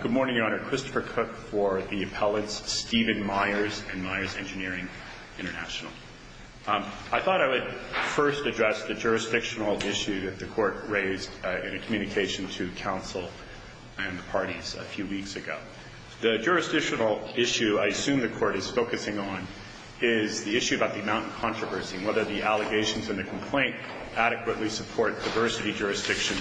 Good morning, Your Honor. Christopher Cook for the Appellate's Steven Myers and Myers Engineering International. I thought I would first address the jurisdictional issue that the Court raised in a communication to counsel and the parties a few weeks ago. The jurisdictional issue I assume the Court is focusing on is the issue about the amount of controversy and whether the allegations in the complaint adequately support diversity jurisdiction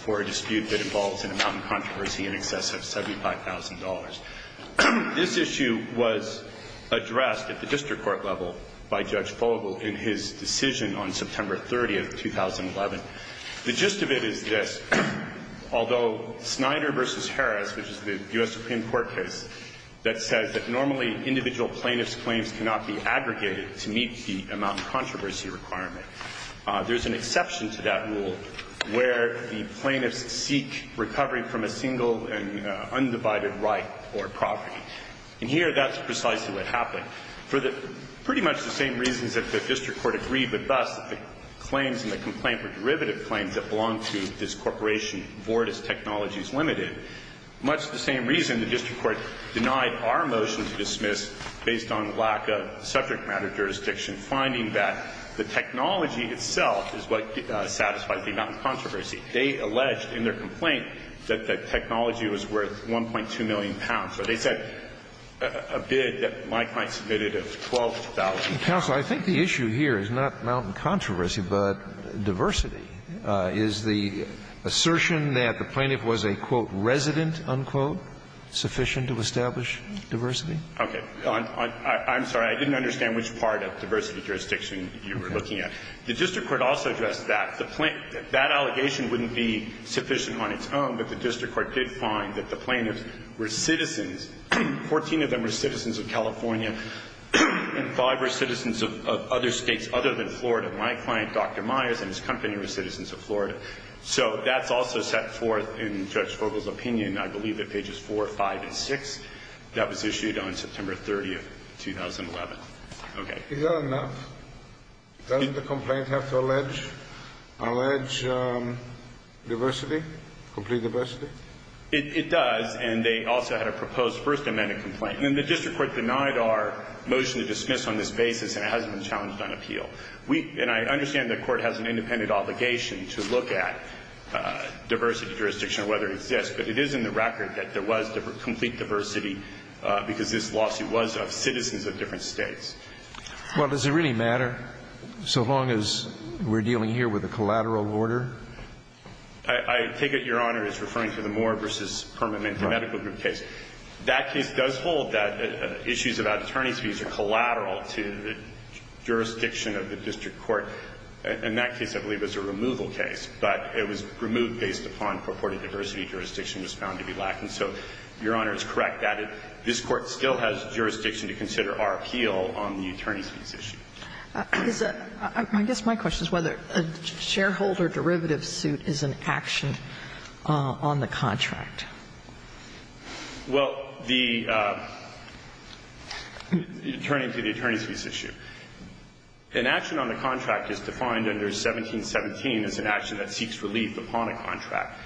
for a dispute that involves an amount of controversy in excess of $75,000. This issue was addressed at the district court level by Judge Fogle in his decision on September 30, 2011. The gist of it is this. Although Snyder v. Harris, which is the U.S. Supreme Court case, that says that normally individual plaintiff's claims cannot be aggregated to meet the amount of controversy requirement, there's an exception to that rule where the plaintiffs seek recovery from a single and undivided right or property. And here that's precisely what happened. For the pretty much the same reasons that the district court agreed with us that the claims in the complaint were derivative claims that belonged to this corporation, Vordis Technologies Limited, much the same reason the district court denied our motion to dismiss, based on lack of subject matter jurisdiction, finding that the technology itself is what satisfies the amount of controversy. They alleged in their complaint that the technology was worth 1.2 million pounds. So they said a bid that Mike Knight submitted of 12,000 pounds. Scalia. Counsel, I think the issue here is not amount of controversy, but diversity. Is the assertion that the plaintiff was a, quote, resident, unquote, sufficient to establish diversity? Okay. I'm sorry. I didn't understand which part of diversity jurisdiction you were looking at. The district court also addressed that. The plaintiff, that allegation wouldn't be sufficient on its own, but the district court did find that the plaintiffs were citizens, 14 of them were citizens of California and five were citizens of other States other than Florida. My client, Dr. Myers, and his company were citizens of Florida. So that's also set forth in Judge Vogel's opinion, I believe at pages 4, 5, and 6. That was issued on September 30th, 2011. Okay. Is that enough? Doesn't the complaint have to allege diversity, complete diversity? It does. And they also had a proposed First Amendment complaint. And the district court denied our motion to dismiss on this basis and it hasn't been challenged on appeal. And I understand the court has an independent obligation to look at diversity jurisdiction or whether it exists. But it is in the record that there was complete diversity because this lawsuit was of citizens of different States. Well, does it really matter so long as we're dealing here with a collateral order? I take it Your Honor is referring to the Moore v. Permanente Medical Group case. That case does hold that issues about attorney's fees are collateral to the jurisdiction of the district court. In that case, I believe it was a removal case, but it was removed based upon purported diversity jurisdiction was found to be lacking. So, Your Honor, it's correct that this Court still has jurisdiction to consider our appeal on the attorney's fees issue. I guess my question is whether a shareholder derivative suit is an action on the contract. Well, the attorney to the attorney's fees issue. An action on the contract is defined under 1717 as an action that seeks relief upon a contract.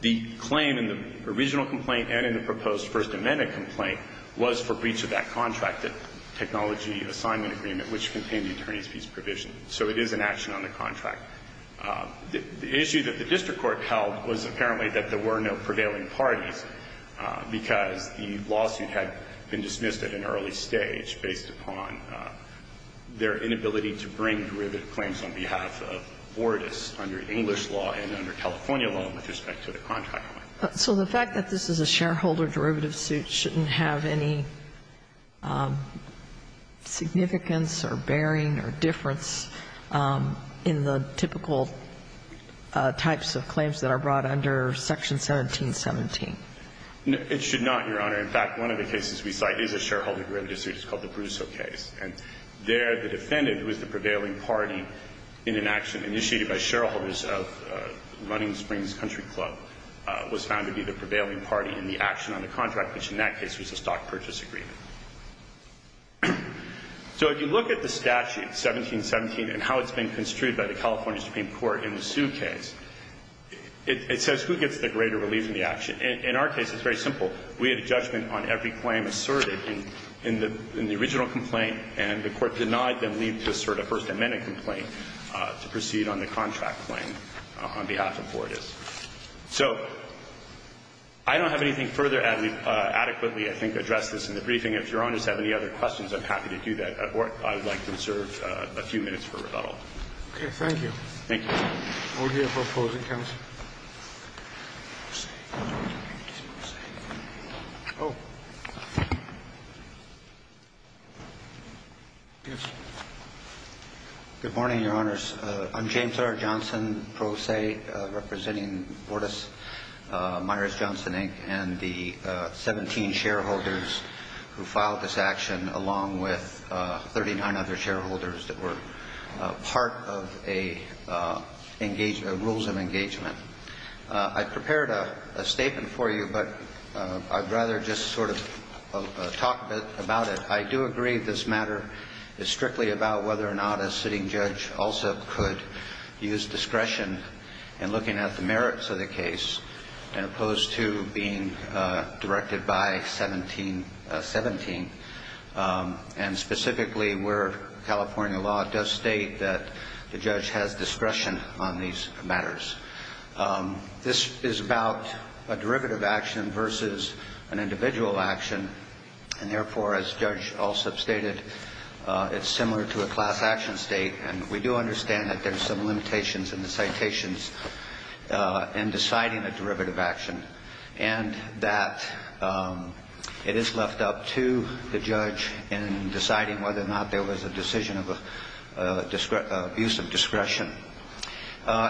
The claim in the original complaint and in the proposed First Amendment complaint was for breach of that contract, the technology assignment agreement, which contained the attorney's fees provision. So it is an action on the contract. The issue that the district court held was apparently that there were no prevailing parties because the lawsuit had been dismissed at an early stage based upon their inability to bring derivative claims on behalf of Bordas under English law and under California law with respect to the contract. So the fact that this is a shareholder derivative suit shouldn't have any significance or bearing or difference in the typical types of claims that are brought under Section 1717? It should not, Your Honor. In fact, one of the cases we cite is a shareholder derivative suit. It's called the Brusso case. And there the defendant was the prevailing party in an action initiated by shareholders of Running Springs Country Club, was found to be the prevailing party in the action on the contract, which in that case was a stock purchase agreement. So if you look at the statute, 1717, and how it's been construed by the California Supreme Court in the Sue case, it says who gets the greater relief in the action. In our case, it's very simple. We had a judgment on every claim asserted in the original complaint, and the court denied them leave to assert a First Amendment complaint to proceed on the contract claim on behalf of Bordas. So I don't have anything further adequately, I think, to address this in the briefing. If Your Honors have any other questions, I'm happy to do that. Or I would like to reserve a few minutes for rebuttal. Okay. Thank you. All here for opposing counsel. Good morning, Your Honors. I'm James R. Johnson, Pro Se, representing Bordas Meyers Johnson Inc. and the 17 shareholders who filed this action, along with 39 other shareholders that were part of a rules of engagement. I prepared a statement for you, but I'd rather just sort of talk a bit about it. I do agree that this matter is strictly about whether or not a sitting judge also could use discretion in looking at the merits of the case, as opposed to being directed by 1717. And specifically, where California law does state that the judge has discretion on these matters. This is about a derivative action versus an individual action, and therefore, as Judge Alsop stated, it's similar to a class action state. And we do understand that there are some limitations in the citations in deciding a derivative action, and that it is left up to the judge in deciding whether or not there was a decision of use of discretion.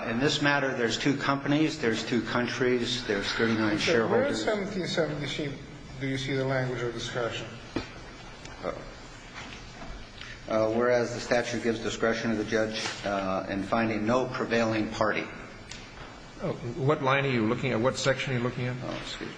In this matter, there's two companies, there's two countries, there's 39 shareholders. Where in 1717 do you see the language of discretion? Whereas the statute gives discretion to the judge in finding no prevailing party. What line are you looking at? What section are you looking at? Oh, excuse me.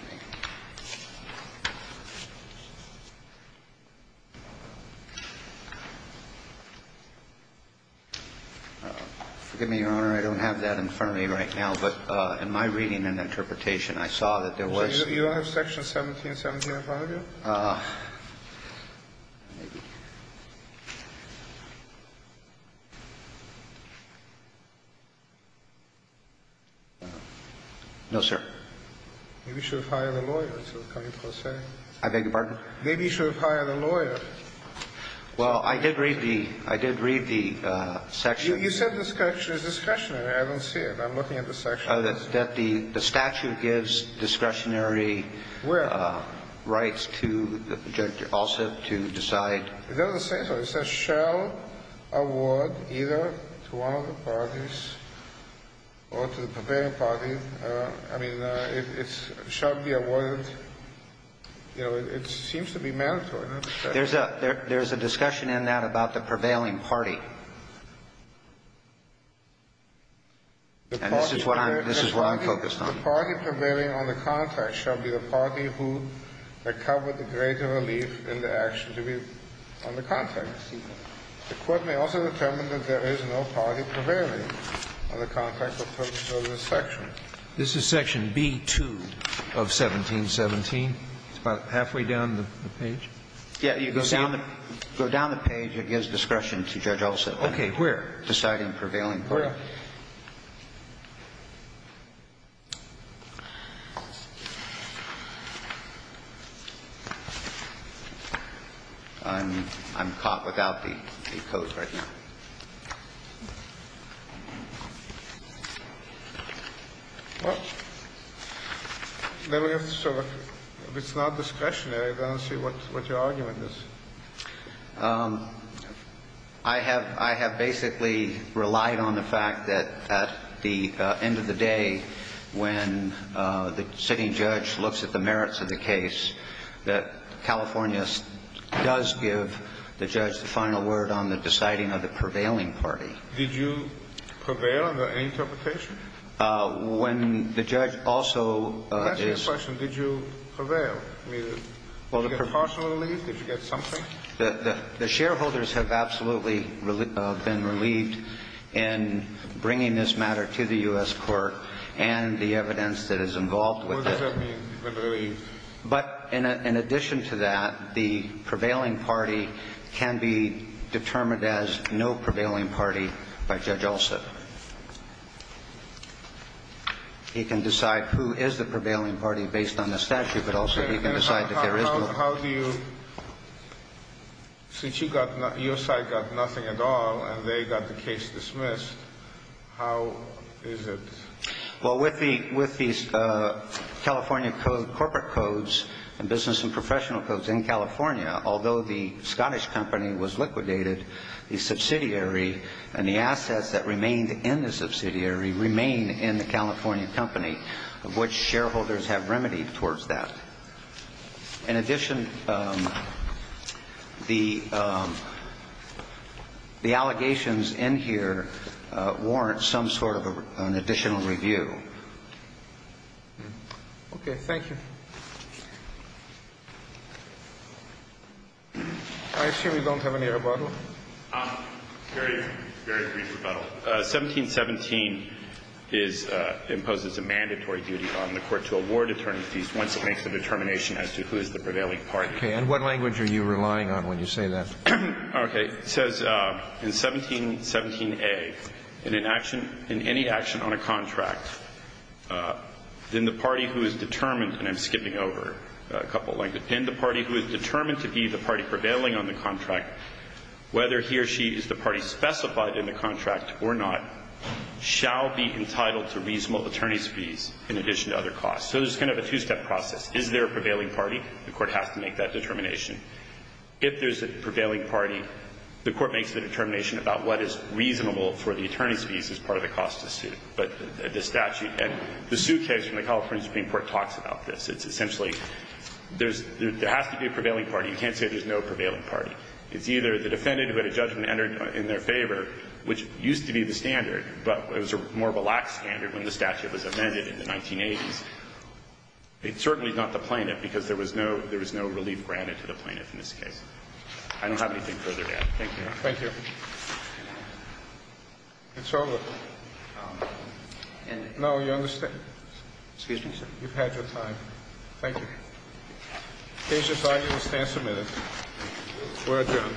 Forgive me, Your Honor. I don't have that in front of me right now, but in my reading and interpretation, I saw that there was. So you don't have section 1717 in front of you? No, sir. Maybe you should have hired a lawyer. I beg your pardon? Maybe you should have hired a lawyer. Well, I did read the section. You said the statute is discretionary. I don't see it. I'm looking at the section. The statute gives discretionary rights to the judge also to decide. It doesn't say so. It says shall award either to one of the parties or to the prevailing party. I mean, it's shall be awarded. You know, it seems to be mandatory. There's a discussion in that about the prevailing party. And this is what I'm focused on. The party prevailing on the contract shall be the party who recovered the greater relief in the action to be on the contract. The court may also determine that there is no party prevailing on the contract or purpose of this section. This is section B2 of 1717. It's about halfway down the page. Go down the page. It gives discretion to judge also. Okay. Where? Deciding prevailing party. Where? I'm caught without the codes right now. Well, then we have to sort of, if it's not discretionary, then I'll see what your argument is. I have basically relied on the fact that at the end of the day, when the sitting judge looks at the merits of the case, that California does give the judge the final word on the deciding of the prevailing party. Did you prevail on the interpretation? When the judge also is. That's your question. Did you prevail? I mean, did you get partial relief? Did you get something? The shareholders have absolutely been relieved in bringing this matter to the U.S. What does that mean, relieved? But in addition to that, the prevailing party can be determined as no prevailing party by Judge Olson. He can decide who is the prevailing party based on the statute, but also he can decide that there is no. How do you, since your side got nothing at all and they got the case dismissed, how is it? Well, with the California corporate codes and business and professional codes in California, although the Scottish company was liquidated, the subsidiary and the assets that remained in the subsidiary remain in the California company, of which shareholders have remedied towards that. In addition, the allegations in here warrant some sort of an additional relief in view. Okay. Thank you. I assume you don't have any rebuttal. Very brief rebuttal. 1717 is imposed as a mandatory duty on the Court to award attorney fees once it makes the determination as to who is the prevailing party. And what language are you relying on when you say that? Okay. It says in 1717a, in an action, in any action on a contract, then the party who is determined, and I'm skipping over a couple of languages, and the party who is determined to be the party prevailing on the contract, whether he or she is the party specified in the contract or not, shall be entitled to reasonable attorney fees in addition to other costs. So there's kind of a two-step process. Is there a prevailing party? The Court has to make that determination. If there's a prevailing party, the Court makes the determination about what is reasonable for the attorney's fees as part of the cost of suit. But the statute and the suit case from the California Supreme Court talks about this. It's essentially there's – there has to be a prevailing party. You can't say there's no prevailing party. It's either the defendant who had a judgment entered in their favor, which used to be the standard, but it was a more of a lax standard when the statute was amended in the 1980s. It's certainly not the plaintiff, because there was no – there was no relief granted to the plaintiff in this case. I don't have anything further to add. Thank you. Roberts. Thank you. It's over. No, you understand. You've had your time. Thank you. The case is argued and stands submitted. We're adjourned.